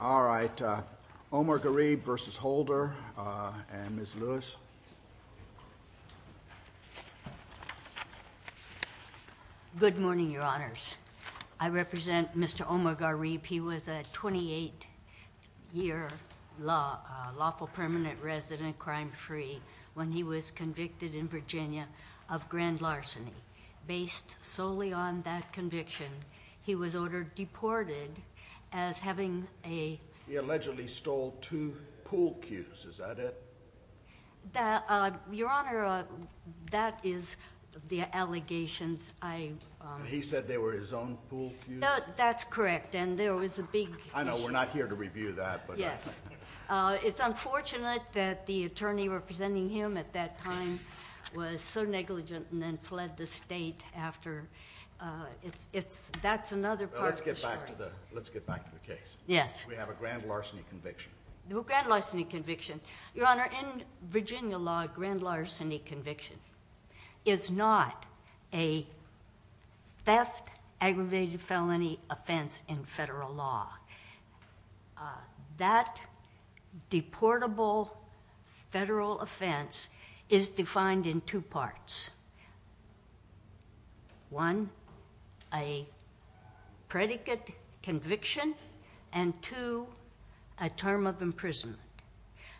All right, Omargharib v. Holder, and Ms. Lewis. Good morning, Your Honors. I represent Mr. Omargharib. He was a 28-year lawful permanent resident, crime-free, when he was convicted in Virginia of grand larceny. Based solely on that conviction, he was ordered deported as having a... He allegedly stole two pool cues. Is that it? Your Honor, that is the allegations I... He said they were his own pool cues? That's correct, and there was a big... I know we're not here to review that, but... It's unfortunate that the attorney representing him at that time was so negligent and then fled the state after... That's another part of the story. Let's get back to the case. Yes. We have a grand larceny conviction. Grand larceny conviction. Your Honor, in Virginia law, a grand larceny conviction is not a theft, aggravated felony offense in federal law. That deportable federal offense is defined in two parts. One, a predicate conviction, and two, a term of imprisonment.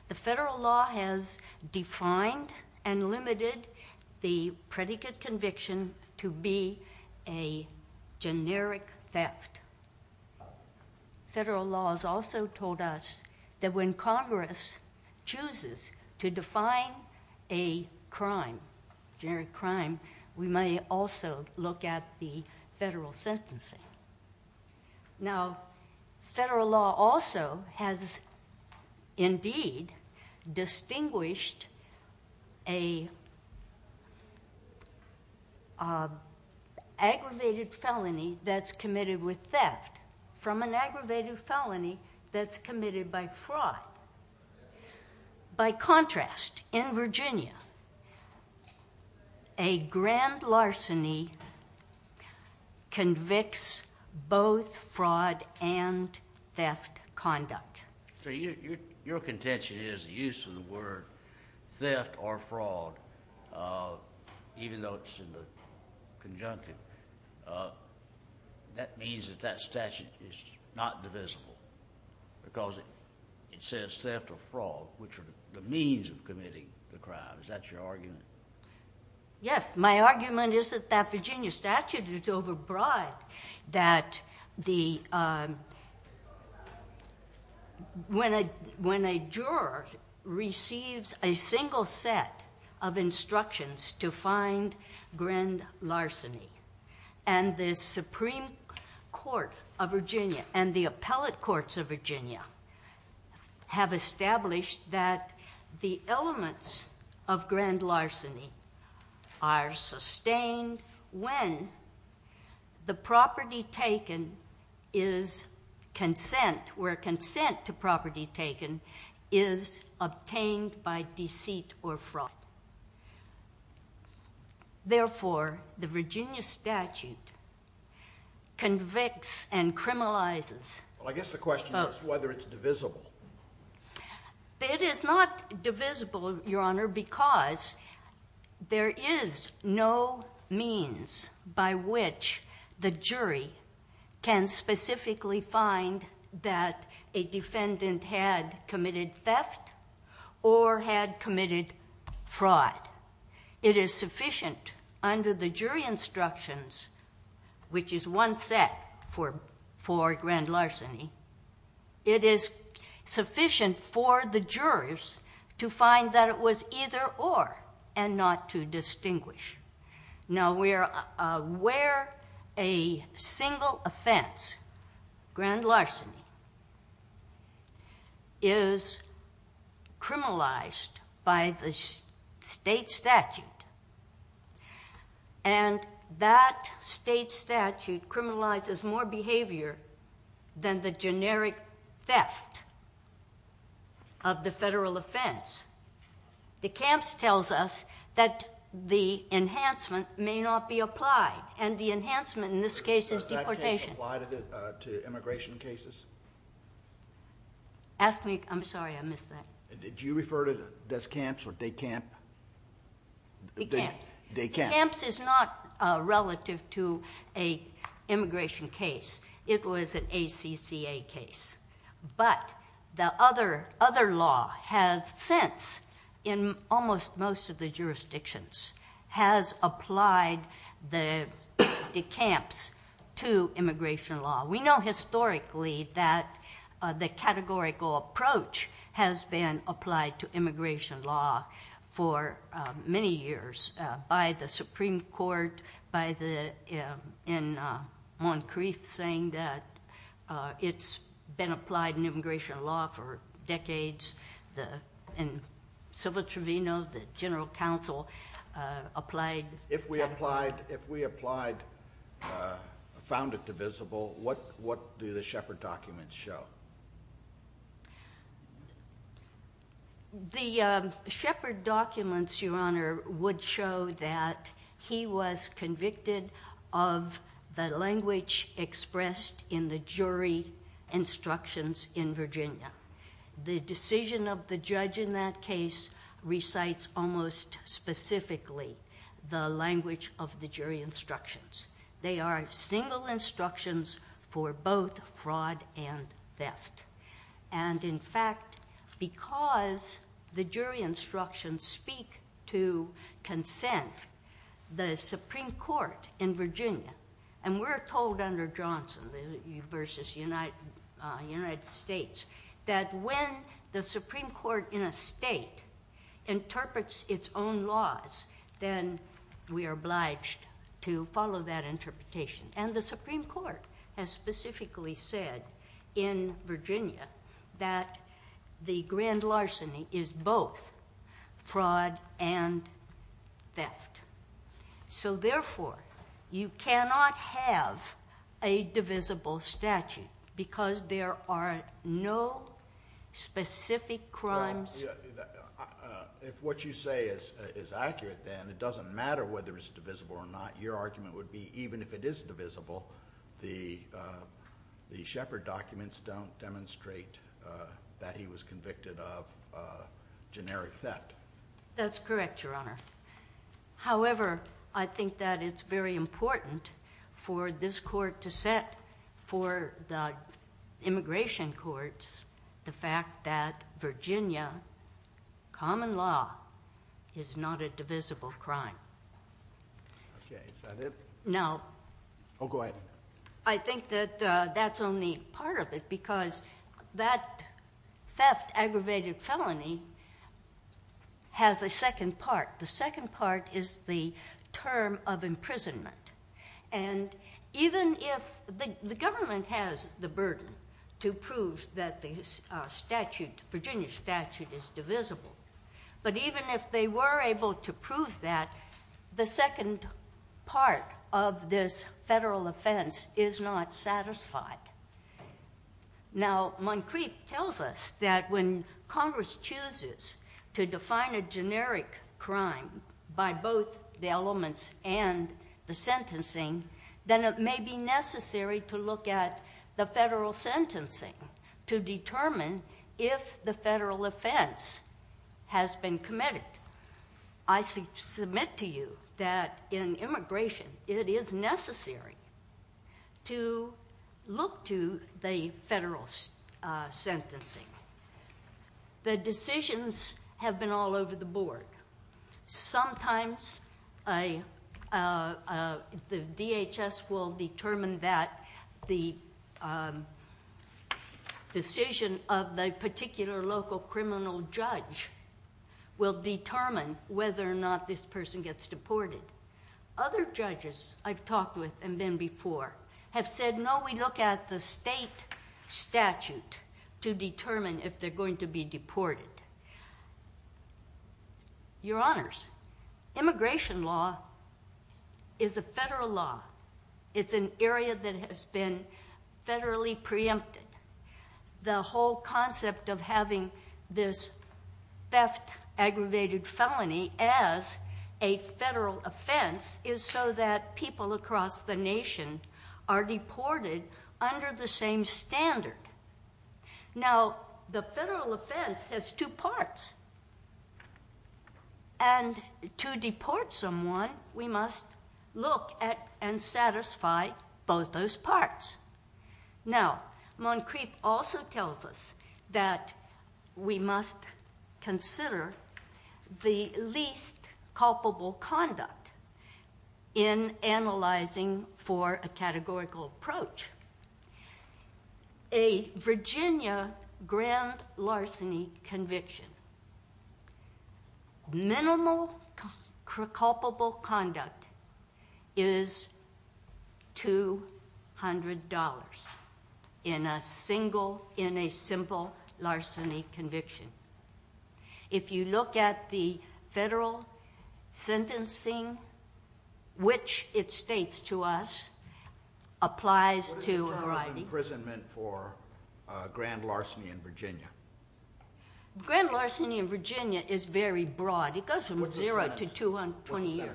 The federal law has defined and limited the predicate conviction to be a generic theft. Federal law has also told us that when Congress chooses to define a crime, generic crime, we may also look at the federal sentencing. Now, federal law also has indeed distinguished an aggravated felony that's committed with theft from an aggravated felony that's committed by fraud. By contrast, in Virginia, a grand larceny convicts both fraud and theft conduct. Your contention is the use of the word theft or fraud, even though it's in the conjunctive, that means that that statute is not divisible because it says theft or fraud, which are the means of committing the crime. Is that your argument? Yes. My argument is that that Virginia statute is overbroad, that when a juror receives a single set of instructions to find grand larceny, and the Supreme Court of Virginia and the appellate courts of Virginia have established that the elements of grand larceny are sustained when the property taken is consent, where consent to property taken is obtained by deceit or fraud. Therefore, the Virginia statute convicts and criminalizes both. Well, I guess the question is whether it's divisible. It is not divisible, Your Honor, because there is no means by which the jury can specifically find that a defendant had committed theft or had committed fraud. It is sufficient under the jury instructions, which is one set for grand larceny, it is sufficient for the jurors to find that it was either or and not to distinguish. Now, where a single offense, grand larceny, is criminalized by the state statute, and that state statute criminalizes more behavior than the generic theft of the federal offense, decamps tells us that the enhancement may not be applied, and the enhancement in this case is deportation. Does that apply to immigration cases? Ask me, I'm sorry, I missed that. Did you refer to descamps or decamp? Decamps. Decamps. Decamps. This is not relative to an immigration case. It was an ACCA case, but the other law has since, in almost most of the jurisdictions, has applied the decamps to immigration law. We know historically that the categorical approach has been applied to immigration law for many years by the Supreme Court, by the, in Moncrief, saying that it's been applied in immigration law for decades. If we applied, found it divisible, what do the Shepard documents show? The Shepard documents, Your Honor, would show that he was convicted of the language expressed in the jury instructions in Virginia. The decision of the judge in that case recites almost specifically the language of the jury instructions. They are single instructions for both fraud and theft, and in fact, because the jury instructions speak to consent, the Supreme Court in Virginia, and we're told under Johnson v. United States that when the Supreme Court in a state interprets its own laws, then we are obliged to follow that interpretation. And the Supreme Court has specifically said in Virginia that the grand larceny is both fraud and theft. So therefore, you cannot have a divisible statute, because there are no specific crimes. If what you say is accurate, then it doesn't matter whether it's divisible or not. Your argument would be even if it is divisible, the Shepard documents don't demonstrate that he was convicted of generic theft. That's correct, Your Honor. However, I think that it's very important for this court to set for the immigration courts the fact that Virginia common law is not a divisible crime. Okay, is that it? No. Oh, go ahead. I think that that's only part of it, because that theft, aggravated felony has a second part. The second part is the term of imprisonment. And even if the government has the burden to prove that the Virginia statute is divisible, but even if they were able to prove that, the second part of this federal offense is not satisfied. Now, Moncrief tells us that when Congress chooses to define a generic crime by both the elements and the sentencing, then it may be necessary to look at the federal sentencing to determine if the federal offense has been committed. I submit to you that in immigration, it is necessary to look to the federal sentencing. The decisions have been all over the board. Sometimes the DHS will determine that the decision of the particular local criminal judge will determine whether or not this person gets deported. Other judges I've talked with and been before have said, no, we look at the state statute to determine if they're going to be deported. Your Honors, immigration law is a federal law. It's an area that has been federally preempted. The whole concept of having this theft, aggravated felony as a federal offense is so that people across the nation are deported under the same standard. Now, the federal offense has two parts, and to deport someone, we must look at and satisfy both those parts. Now, Moncrief also tells us that we must consider the least culpable conduct in analyzing for a categorical approach. A Virginia grand larceny conviction, minimal culpable conduct is $200 in a simple larceny conviction. If you look at the federal sentencing, which it states to us, applies to a variety... What does the term imprisonment for grand larceny in Virginia? Grand larceny in Virginia is very broad. It goes from 0 to 20 years.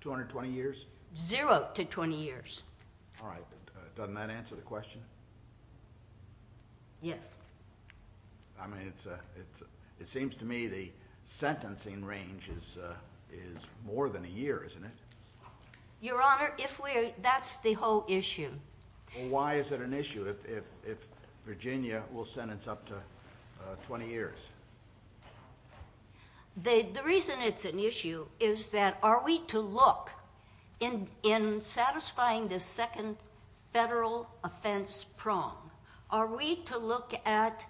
220 years? 0 to 20 years. Doesn't that answer the question? Yes. It seems to me the sentencing range is more than a year, isn't it? Your Honor, that's the whole issue. Why is it an issue if Virginia will sentence up to 20 years? The reason it's an issue is that are we to look in satisfying this second federal offense prong, are we to look at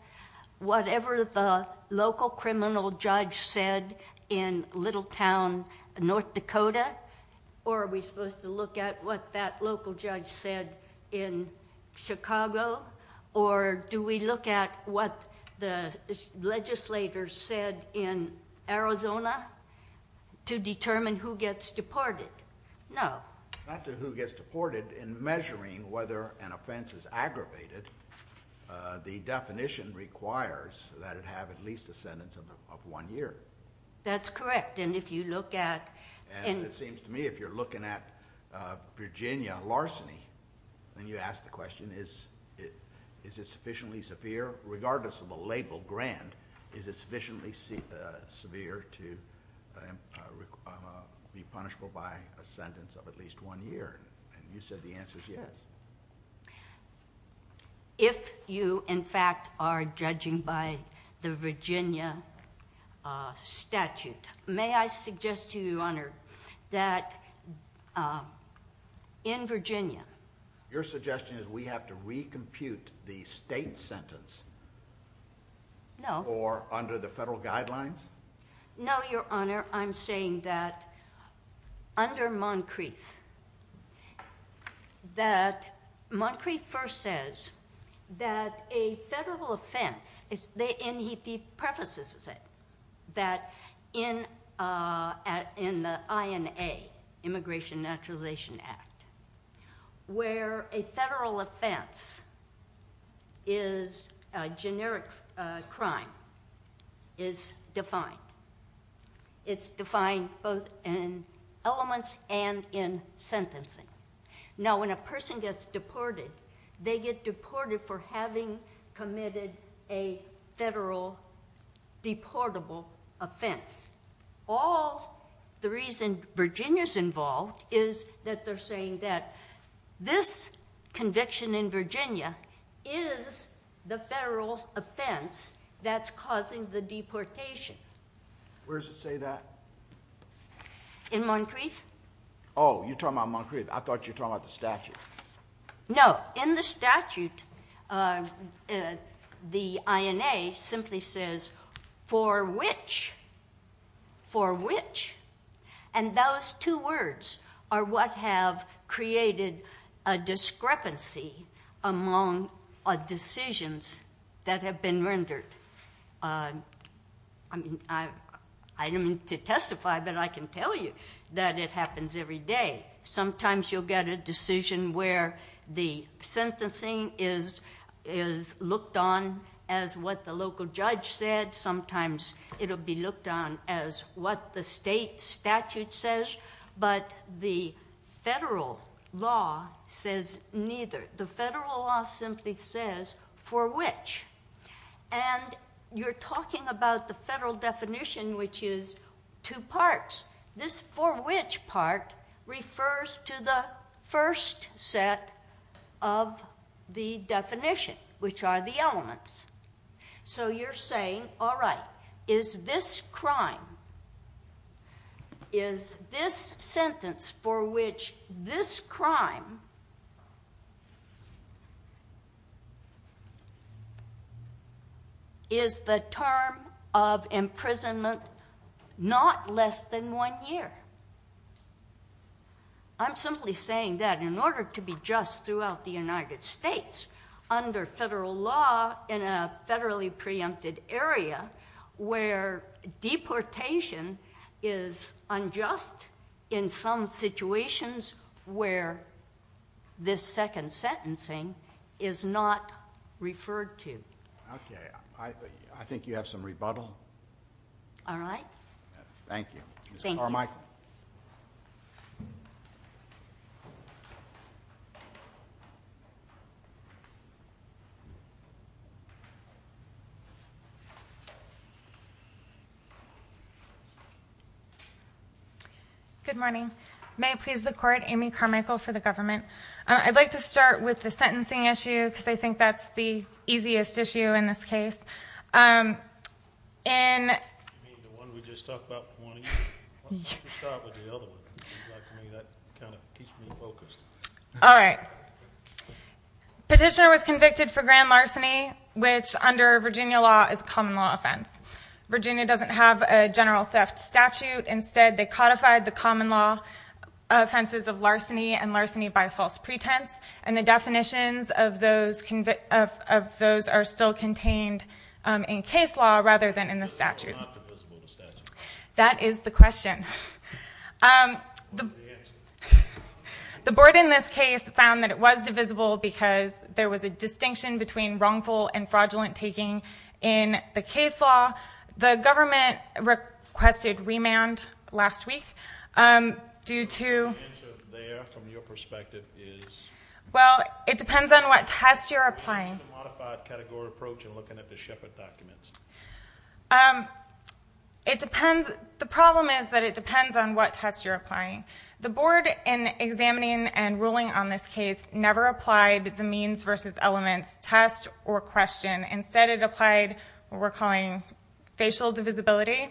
whatever the local criminal judge said in Littletown, North Dakota, or are we supposed to look at what that local judge said in Chicago, or do we look at what the legislators said in Arizona to determine who gets deported? No. Not to who gets deported. In measuring whether an offense is aggravated, the definition requires that it have at least a sentence of one year. That's correct. It seems to me if you're looking at Virginia larceny, and you ask the question, is it sufficiently severe? Regardless of the label, grand, is it sufficiently severe to be punishable by a sentence of at least one year? You said the answer is yes. If you, in fact, are judging by the Virginia statute, may I suggest to you, Your Honor, that in Virginia... Your suggestion is we have to recompute the state sentence? No. Or under the federal guidelines? No, Your Honor. Your Honor, I'm saying that under Moncrief, that Moncrief first says that a federal offense, and he prefaces it, that in the INA, Immigration Naturalization Act, where a federal offense is a generic crime, is defined. It's defined both in elements and in sentencing. Now, when a person gets deported, they get deported for having committed a federal deportable offense. All the reason Virginia's involved is that they're saying that this conviction in Virginia is the federal offense that's causing the deportation. Where does it say that? In Moncrief. Oh, you're talking about Moncrief. I thought you were talking about the statute. No. In the statute, the INA simply says, for which, for which, and those two words are what have created a discrepancy among decisions that have been rendered. I don't mean to testify, but I can tell you that it happens every day. Sometimes you'll get a decision where the sentencing is looked on as what the local judge said. Sometimes it'll be looked on as what the state statute says, but the federal law says neither. The federal law simply says, for which, and you're talking about the federal definition, which is two parts. This for which part refers to the first set of the definition, which are the elements. So you're saying, all right, is this crime, is this sentence for which this crime is the term of imprisonment not less than one year? I'm simply saying that in order to be just throughout the United States, under federal law in a federally preempted area where deportation is unjust, in some situations where this second sentencing is not referred to. Okay. I think you have some rebuttal. All right. Thank you. Thank you. Mr. Carmichael. Good morning. May it please the Court, Amy Carmichael for the government. I'd like to start with the sentencing issue, because I think that's the easiest issue in this case. You mean the one we just talked about? Why don't you start with the other one? That kind of keeps me focused. All right. Petitioner was convicted for grand larceny, which under Virginia law is a common law offense. Virginia doesn't have a general theft statute. Instead, they codified the common law offenses of larceny and larceny by false pretense, and the definitions of those are still contained in case law, rather than in the statute. So it's not divisible in the statute? That is the question. What was the answer? The board in this case found that it was divisible because there was a distinction between wrongful and fraudulent taking in the case law. The government requested remand last week due to ‑‑ Well, it depends on what test you're applying. The problem is that it depends on what test you're applying. The board, in examining and ruling on this case, never applied the means versus elements test or question. Instead, it applied what we're calling facial divisibility.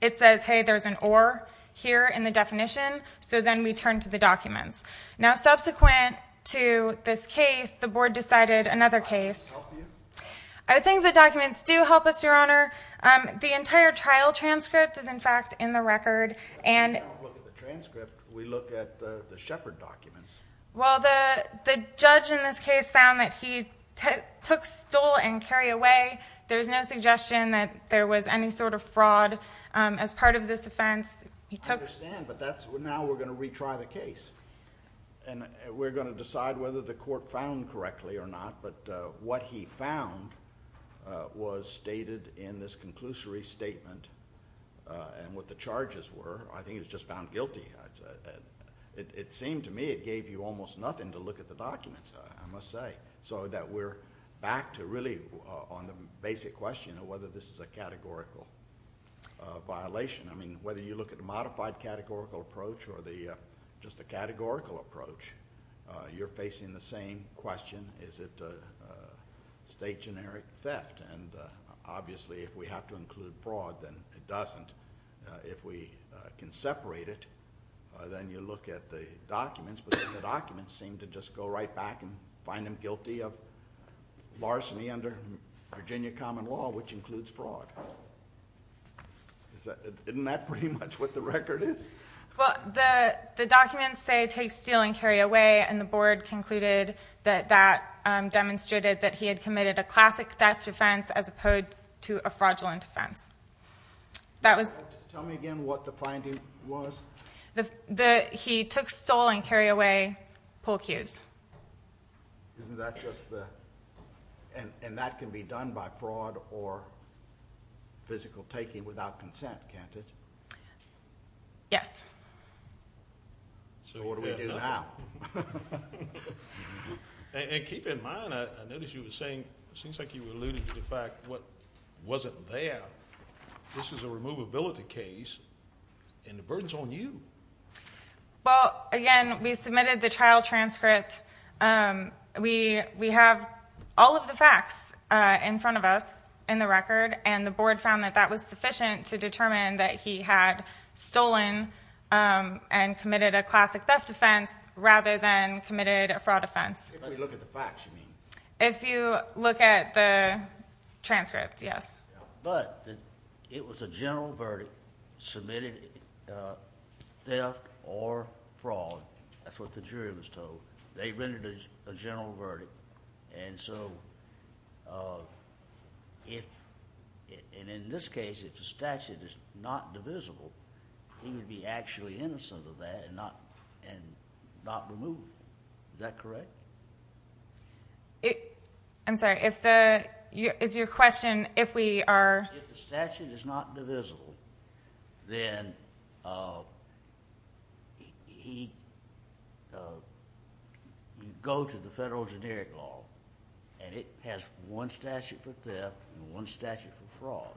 It says, hey, there's an or here in the definition, so then we turn to the documents. Now, subsequent to this case, the board decided another case. I think the documents do help us, Your Honor. The entire trial transcript is, in fact, in the record. We don't look at the transcript. We look at the Shepard documents. Well, the judge in this case found that he took, stole, and carried away. There's no suggestion that there was any sort of fraud as part of this offense. I understand, but now we're going to retry the case. We're going to decide whether the court found correctly or not, but what he found was stated in this conclusory statement. What the charges were, I think it was just found guilty. It seemed to me it gave you almost nothing to look at the documents, I must say, so that we're back to really on the basic question of whether this is a categorical violation. I mean, whether you look at a modified categorical approach or just a categorical approach, you're facing the same question. Is it a state generic theft? Obviously, if we have to include fraud, then it doesn't. If we can separate it, then you look at the documents, but the documents seem to just go right back and find him guilty of larceny under Virginia common law, which includes fraud. Isn't that pretty much what the record is? Well, the documents say take, steal, and carry away, and the board concluded that that demonstrated that he had committed a classic theft offense as opposed to a fraudulent offense. Tell me again what the finding was. He took, stole, and carried away pool cues. Isn't that just the... And that can be done by fraud or physical taking without consent, can't it? Yes. So what do we do now? And keep in mind, I noticed you were saying, it seems like you alluded to the fact what wasn't there. This is a removability case, and the burden's on you. Well, again, we submitted the trial transcript. We have all of the facts in front of us in the record, and the board found that that was sufficient to determine that he had stolen and committed a classic theft offense rather than committed a fraud offense. If we look at the facts, you mean? If you look at the transcript, yes. But it was a general verdict, submitted theft or fraud. That's what the jury was told. They rendered a general verdict. And so if, and in this case, if the statute is not divisible, he would be actually innocent of that and not removed. Is that correct? I'm sorry. Is your question, if we are? If the statute is not divisible, then he'd go to the federal generic law, and it has one statute for theft and one statute for fraud.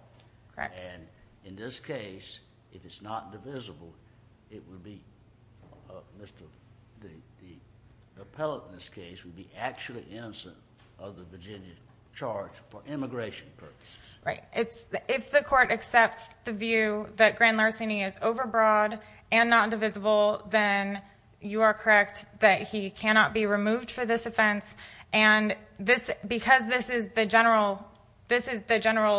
Correct. And in this case, if it's not divisible, it would be, the appellate in this case would be actually innocent of the Virginia charge for immigration purposes. Right. If the court accepts the view that Grand Larceny is overbroad and not divisible, then you are correct that he cannot be removed for this offense. And because this is the general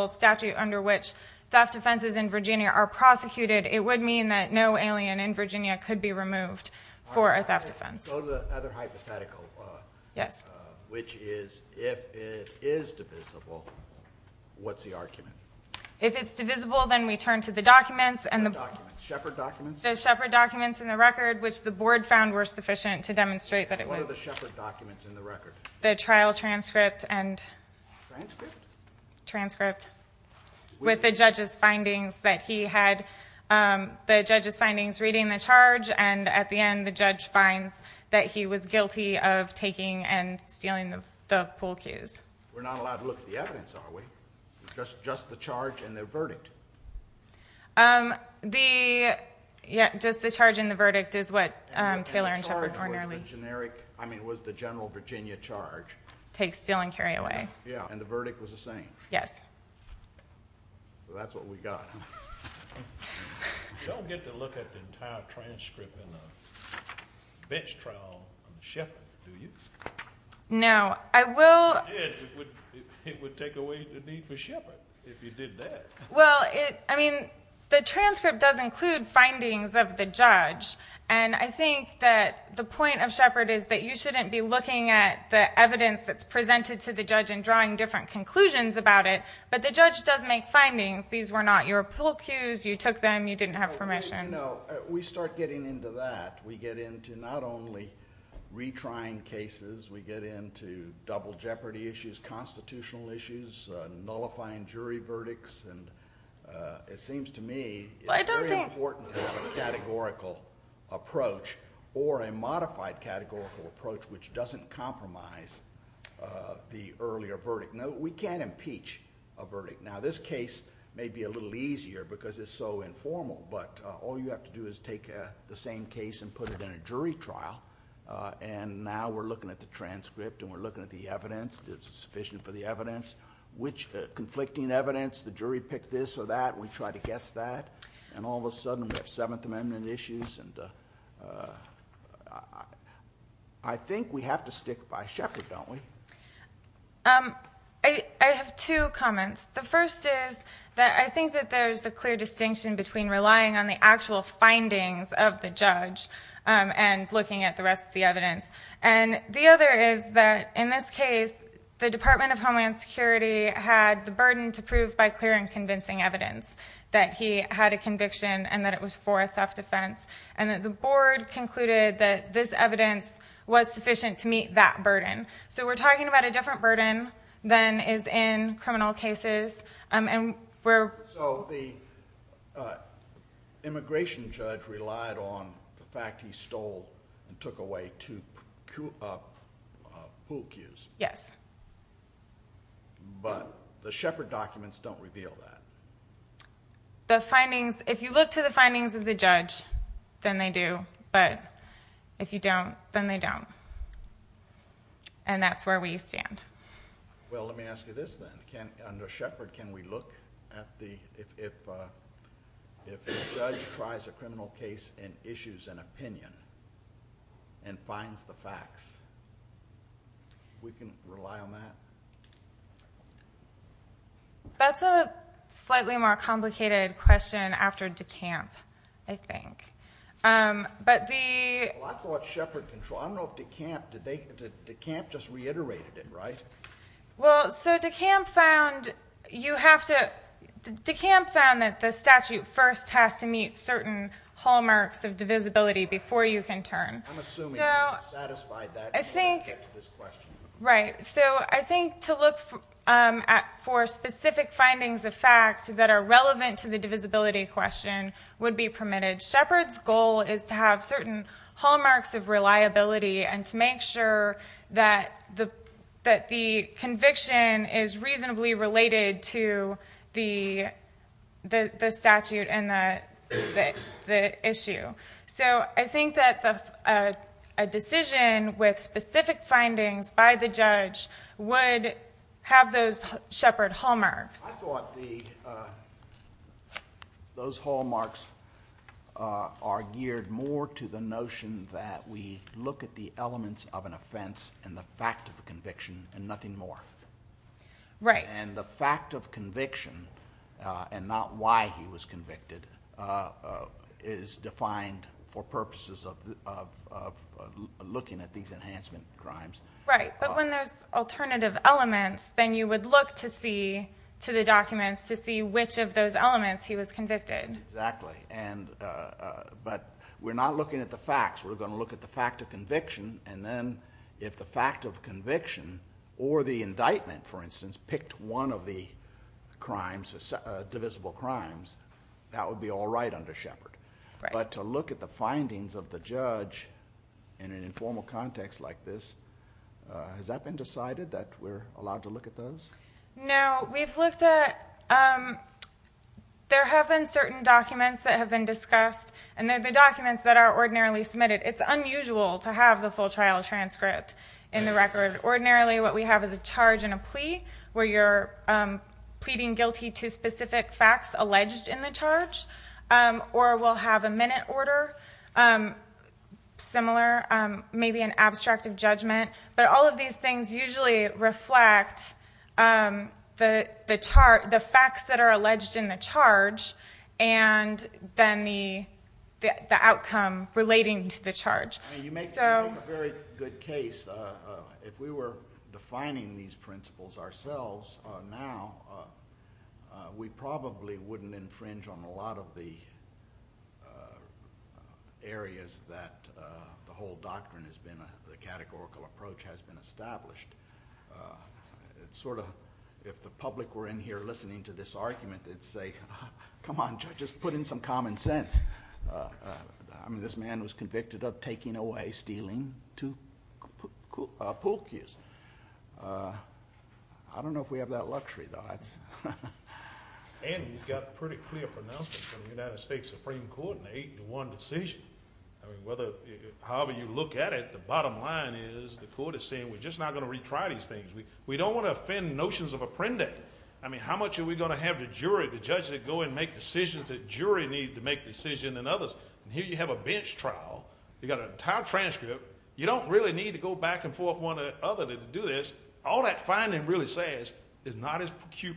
statute under which theft offenses in Virginia are prosecuted, it would mean that no alien in Virginia could be removed for a theft offense. Let's go to the other hypothetical. Yes. Which is, if it is divisible, what's the argument? If it's divisible, then we turn to the documents. What documents? Shepard documents? The Shepard documents in the record, which the board found were sufficient to demonstrate that it was. What are the Shepard documents in the record? The trial transcript and. Transcript? Transcript. With the judge's findings that he had, the judge's findings reading the charge, and at the end, the judge finds that he was guilty of taking and stealing the pool cues. We're not allowed to look at the evidence, are we? Just the charge and the verdict? The, yeah, just the charge and the verdict is what Taylor and Shepard were nearly. And the charge was the generic, I mean, was the general Virginia charge. Take, steal, and carry away. Yeah, and the verdict was the same? Yes. Well, that's what we got, huh? You don't get to look at the entire transcript in a bench trial on Shepard, do you? No, I will. It would take away the need for Shepard if you did that. Well, I mean, the transcript does include findings of the judge, and I think that the point of Shepard is that you shouldn't be looking at the evidence that's presented to the judge and drawing different conclusions about it, but the judge does make findings. These were not your pill cues. You took them. You didn't have permission. No, we start getting into that. We get into not only retrying cases. We get into double jeopardy issues, constitutional issues, nullifying jury verdicts, and it seems to me it's very important to have a categorical approach or a modified categorical approach which doesn't compromise the earlier verdict. No, we can't impeach a verdict. Now, this case may be a little easier because it's so informal, but all you have to do is take the same case and put it in a jury trial, and now we're looking at the transcript and we're looking at the evidence, is it sufficient for the evidence, which conflicting evidence, the jury picked this or that, and we try to guess that, and all of a sudden we have Seventh Amendment issues, and I think we have to stick by Shepard, don't we? I have two comments. The first is that I think that there's a clear distinction between relying on the actual findings of the judge and looking at the rest of the evidence, and the other is that in this case, the Department of Homeland Security had the burden to prove by clear and convincing evidence that he had a conviction and that it was for a theft offense, and that the board concluded that this evidence was sufficient to meet that burden, so we're talking about a different burden than is in criminal cases, and we're... So the immigration judge relied on the fact he stole and took away two pool cues. Yes. But the Shepard documents don't reveal that. The findings, if you look to the findings of the judge, then they do, but if you don't, then they don't, and that's where we stand. Well, let me ask you this, then. Under Shepard, can we look at the... If a judge tries a criminal case and issues an opinion and finds the facts, we can rely on that? That's a slightly more complicated question after DeKalb, I think. But the... Well, I thought Shepard... I don't know if DeKalb... DeKalb just reiterated it, right? Well, so DeKalb found... You have to... DeKalb found that the statute first has to meet certain hallmarks of divisibility before you can turn. I'm assuming he satisfied that... I think... Right. So I think to look for specific findings of fact that are relevant to the divisibility question would be permitted. Shepard's goal is to have certain hallmarks of reliability and to make sure that the conviction is reasonably related to the statute and the issue. So I think that a decision with specific findings by the judge would have those Shepard hallmarks. I thought those hallmarks are geared more to the notion that we look at the elements of an offence and the fact of the conviction and nothing more. Right. And the fact of conviction and not why he was convicted is defined for purposes of looking at these enhancement crimes. Right, but when there's alternative elements, then you would look to the documents to see which of those elements he was convicted. Exactly. But we're not looking at the facts. We're going to look at the fact of conviction, and then if the fact of conviction or the indictment, for instance, picked one of the divisible crimes, that would be all right under Shepard. Right. But to look at the findings of the judge in an informal context like this, has that been decided that we're allowed to look at those? No, we've looked at... There have been certain documents that have been discussed, and the documents that are ordinarily submitted, it's unusual to have the full trial transcript in the record. Ordinarily what we have is a charge and a plea where you're pleading guilty to specific facts alleged in the charge, or we'll have a minute order, similar, maybe an abstract of judgment. But all of these things usually reflect the facts that are alleged in the charge and then the outcome relating to the charge. You make a very good case. If we were defining these principles ourselves now, we probably wouldn't infringe on a lot of the areas that the whole doctrine has been, the categorical approach has been established. It's sort of, if the public were in here listening to this argument, they'd say, come on, judges, put in some common sense. I mean, this man was convicted of taking away, stealing two pool cues. I don't know if we have that luxury, though. And you've got pretty clear pronouncements from the United States Supreme Court in the eight-to-one decision. I mean, however you look at it, the bottom line is the court is saying we're just not going to retry these things. We don't want to offend notions of apprendage. I mean, how much are we going to have the jury, the judge, that go and make decisions that jury need to make decisions and others? And here you have a bench trial. You've got an entire transcript. You don't really need to go back and forth one other day to do this. All that finding really says is not his cue,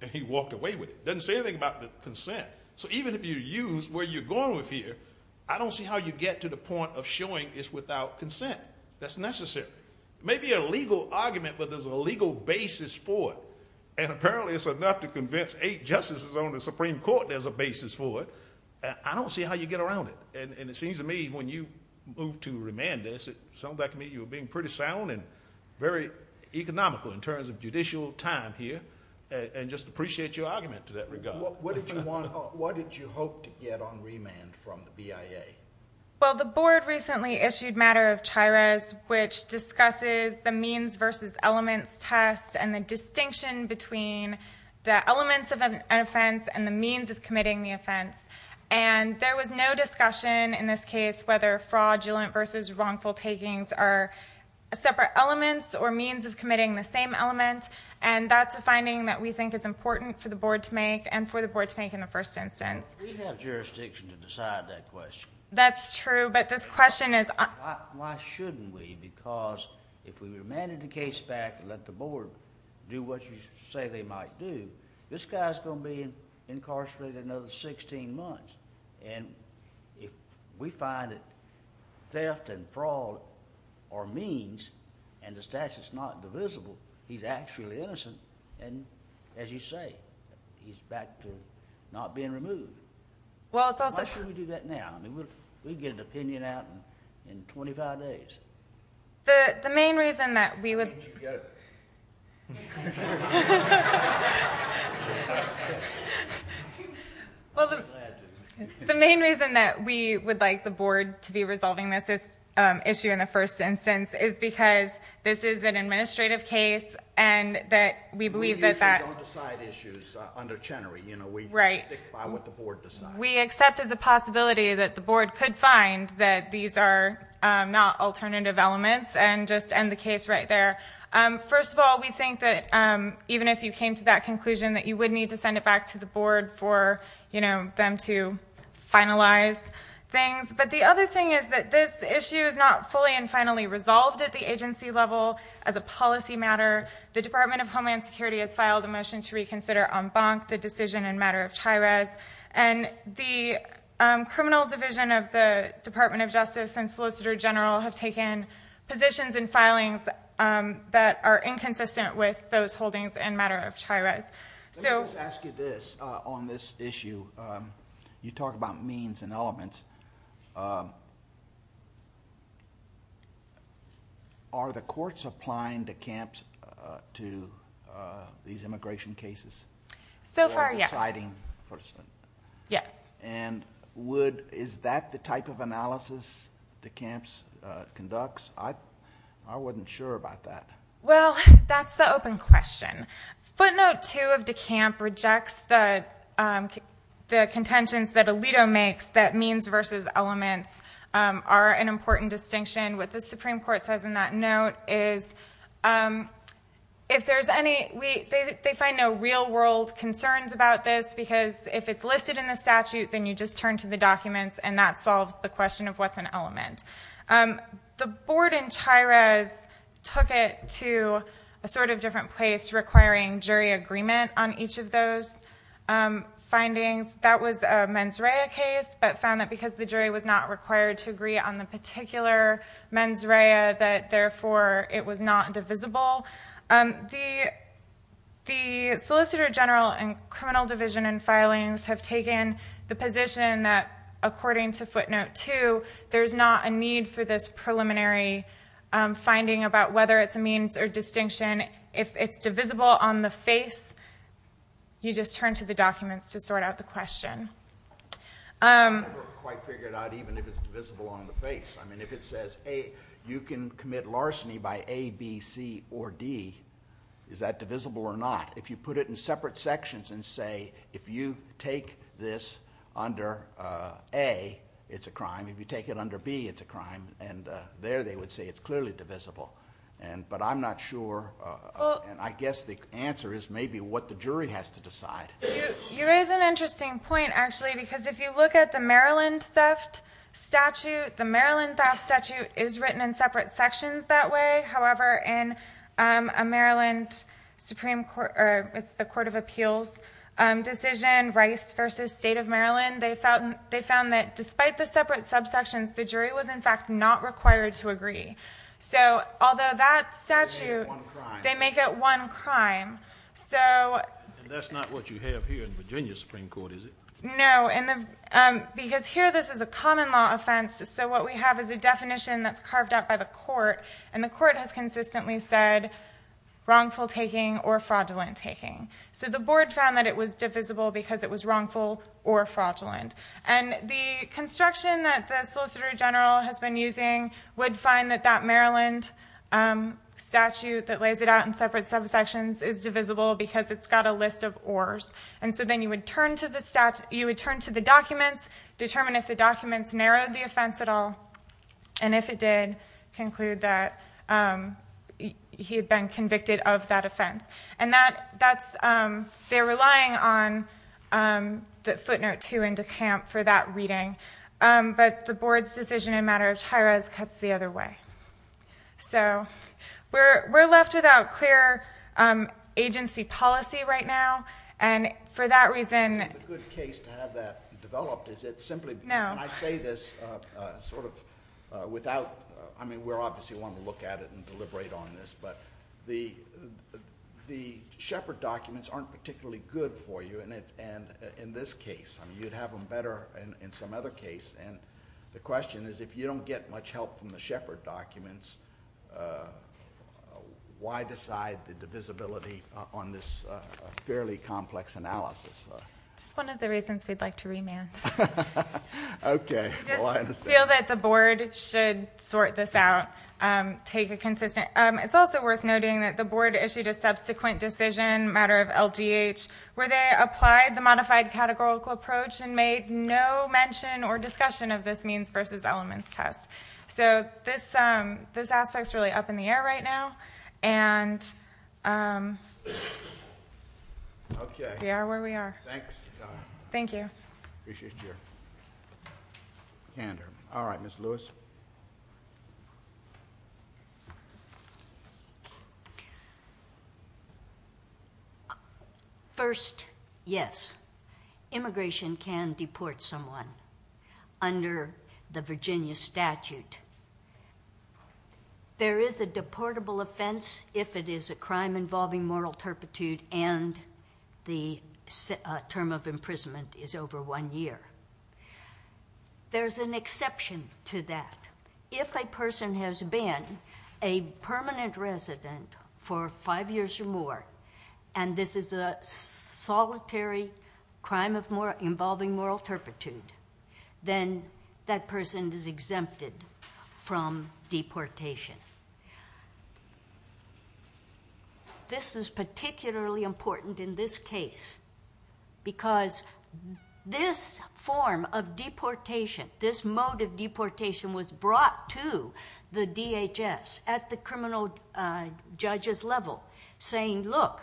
and he walked away with it. It doesn't say anything about the consent. So even if you use where you're going with here, I don't see how you get to the point of showing it's without consent. That's necessary. It may be a legal argument, but there's a legal basis for it. And apparently it's enough to convince eight justices on the Supreme Court there's a basis for it. I don't see how you get around it. And it seems to me when you move to remand this, it sounds like to me you're being pretty sound and very economical in terms of judicial time here, and just appreciate your argument to that regard. What did you hope to get on remand from the BIA? Well, the board recently issued a matter of chaires which discusses the means versus elements test and the distinction between the elements of an offense and the means of committing the offense. And there was no discussion in this case whether fraudulent versus wrongful takings are separate elements or means of committing the same element, and that's a finding that we think is important for the board to make and for the board to make in the first instance. We have jurisdiction to decide that question. That's true, but this question is... Why shouldn't we? Because if we remanded the case back and let the board do what you say they might do, this guy's going to be incarcerated another 16 months. And if we find that theft and fraud are means and the statute's not divisible, he's actually innocent. And as you say, he's back to not being removed. Why should we do that now? I mean, we can get an opinion out in 25 days. The main reason that we would like the board to be resolving this issue in the first instance is because this is an administrative case and that we believe that that... We usually don't decide issues under Chenery. We stick by what the board decides. We accept as a possibility that the board could find that these are not alternative elements and just end the case right there. First of all, we think that even if you came to that conclusion, that you would need to send it back to the board for them to finalize things. But the other thing is that this issue is not fully and finally resolved at the agency level as a policy matter. The Department of Homeland Security has filed a motion to reconsider en banc the decision in matter of chaires. And the criminal division of the Department of Justice and Solicitor General have taken positions and filings that are inconsistent with those holdings in matter of chaires. Let me just ask you this on this issue. You talk about means and elements. Are the courts applying DeCamps to these immigration cases? So far, yes. And is that the type of analysis DeCamps conducts? I wasn't sure about that. Well, that's the open question. Footnote 2 of DeCamps rejects the contentions that Alito makes that means versus elements are an important distinction. What the Supreme Court says in that note is if there's any – they find no real-world concerns about this because if it's listed in the statute, then you just turn to the documents and that solves the question of what's an element. The board in chaires took it to a sort of different place, requiring jury agreement on each of those findings. That was a mens rea case, but found that because the jury was not required to agree on the particular mens rea that, therefore, it was not divisible. The Solicitor General and criminal division and filings have taken the position that, according to footnote 2, there's not a need for this preliminary finding about whether it's a means or distinction. If it's divisible on the face, you just turn to the documents to sort out the question. I've never quite figured out even if it's divisible on the face. I mean, if it says, A, you can commit larceny by A, B, C, or D, is that divisible or not? If you put it in separate sections and say, if you take this under A, it's a crime. If you take it under B, it's a crime. And there they would say it's clearly divisible. But I'm not sure. I guess the answer is maybe what the jury has to decide. You raise an interesting point, actually, because if you look at the Maryland theft statute, the Maryland theft statute is written in separate sections that way. However, in the Court of Appeals decision, Rice v. State of Maryland, they found that despite the separate subsections, the jury was, in fact, not required to agree. So although that statute... They make it one crime. They make it one crime. And that's not what you have here in Virginia Supreme Court, is it? No. Because here this is a common law offense, so what we have is a definition that's carved out by the court, and the court has consistently said wrongful taking or fraudulent taking. So the board found that it was divisible because it was wrongful or fraudulent. And the construction that the Solicitor General has been using would find that that Maryland statute that lays it out in separate subsections is divisible because it's got a list of ors. And so then you would turn to the documents, determine if the documents narrowed the offense at all, and if it did, conclude that he had been convicted of that offense. And that's... They're relying on the footnote 2 in DeCamp for that reading, but the board's decision in matter of tiras cuts the other way. So we're left without clear agency policy right now, and for that reason... Is it a good case to have that developed? Is it simply... When I say this, sort of without... I mean, we obviously want to look at it and deliberate on this, but the Shepard documents aren't particularly good for you in this case. You'd have them better in some other case. And the question is, if you don't get much help from the Shepard documents, why decide the divisibility on this fairly complex analysis? Just one of the reasons we'd like to remand. Okay. I just feel that the board should sort this out, take a consistent... It's also worth noting that the board issued a subsequent decision, a matter of LGH, where they applied the modified categorical approach and made no mention or discussion of this means versus elements test. So this aspect's really up in the air right now, and... Okay. We are where we are. Thanks. Thank you. Appreciate your candor. All right, Ms. Lewis. First, yes. Immigration can deport someone under the Virginia statute. There is a deportable offense if it is a crime involving moral turpitude and the term of imprisonment is over one year. There's an exception to that. If a person has been a permanent resident for five years or more, and this is a solitary crime involving moral turpitude, then that person is exempted from deportation. This is particularly important in this case because this form of deportation, this mode of deportation was brought to the DHS at the criminal judge's level, saying, look,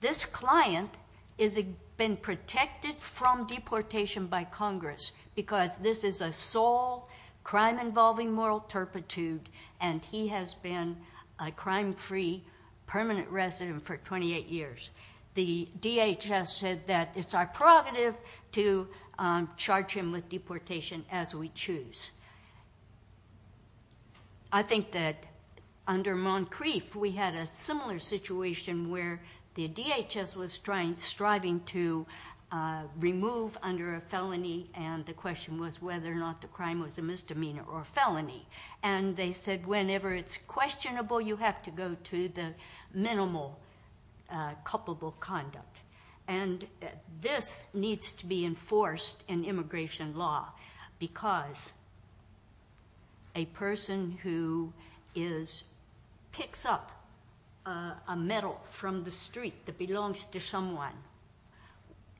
this client has been protected from deportation by Congress because this is a sole crime involving moral turpitude and he has been a crime-free permanent resident for 28 years. The DHS said that it's our prerogative to charge him with deportation as we choose. I think that under Moncrief, we had a similar situation where the DHS was striving to remove under a felony and the question was whether or not the crime was a misdemeanor or felony. They said whenever it's questionable, you have to go to the minimal culpable conduct. This needs to be enforced in immigration law because a person who picks up a medal from the street that belongs to someone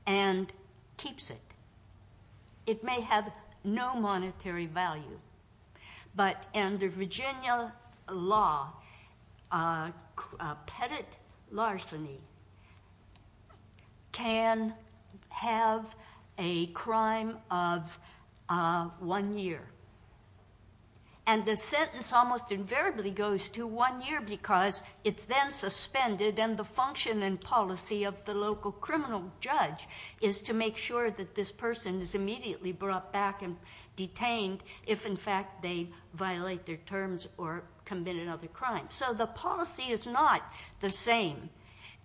and keeps it, it may have no monetary value, but under Virginia law, a pettit larceny can have a crime of one year. And the sentence almost invariably goes to one year because it's then suspended and the function and policy of the local criminal judge is to make sure that this person is immediately brought back and detained if in fact they violate their terms or commit another crime. So the policy is not the same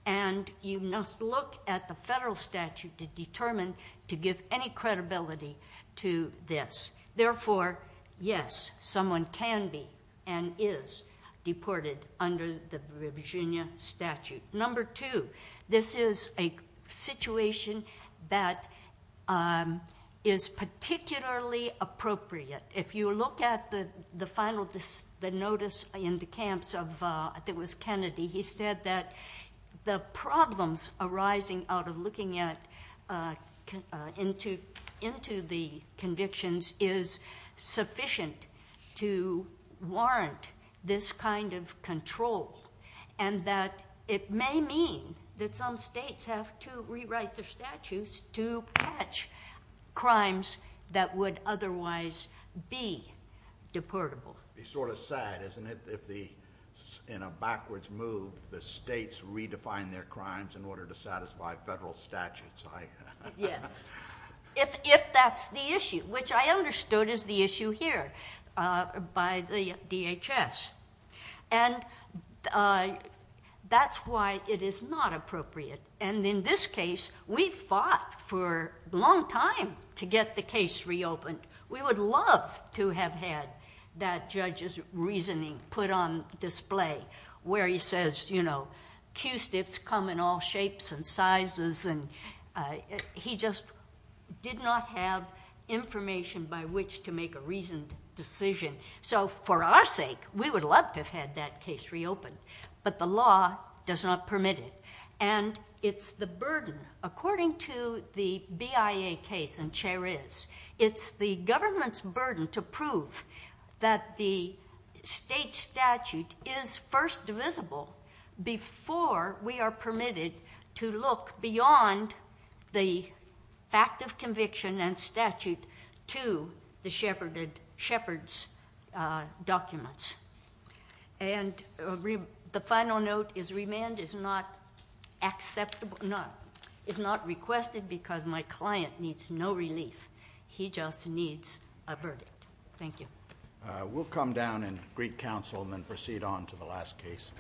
and you must look at the federal statute to determine to give any credibility to this. Therefore, yes, someone can be and is deported under the Virginia statute. Number two, this is a situation that is particularly appropriate. If you look at the final notice in the camps, I think it was Kennedy, he said that the problems arising out of looking into the convictions is sufficient to warrant this kind of control and that it may mean that some states have to rewrite their statutes to catch crimes that would otherwise be deportable. It would be sort of sad, isn't it, if in a backwards move the states redefine their crimes in order to satisfy federal statutes. Yes, if that's the issue, which I understood is the issue here by the DHS. And that's why it is not appropriate. And in this case, we fought for a long time to get the case reopened. We would love to have had that judge's reasoning put on display where he says, you know, Q-stips come in all shapes and sizes and he just did not have information by which to make a reasoned decision. So for our sake, we would love to have had that case reopened. But the law does not permit it. And it's the burden. According to the BIA case in Cherez, it's the government's burden to prove that the state statute is first divisible before we are permitted to look beyond the fact of conviction and statute to the shepherd's documents. And the final note is remand is not requested because my client needs no relief. He just needs a verdict. Thank you. We'll come down and greet counsel and then proceed on to the last case.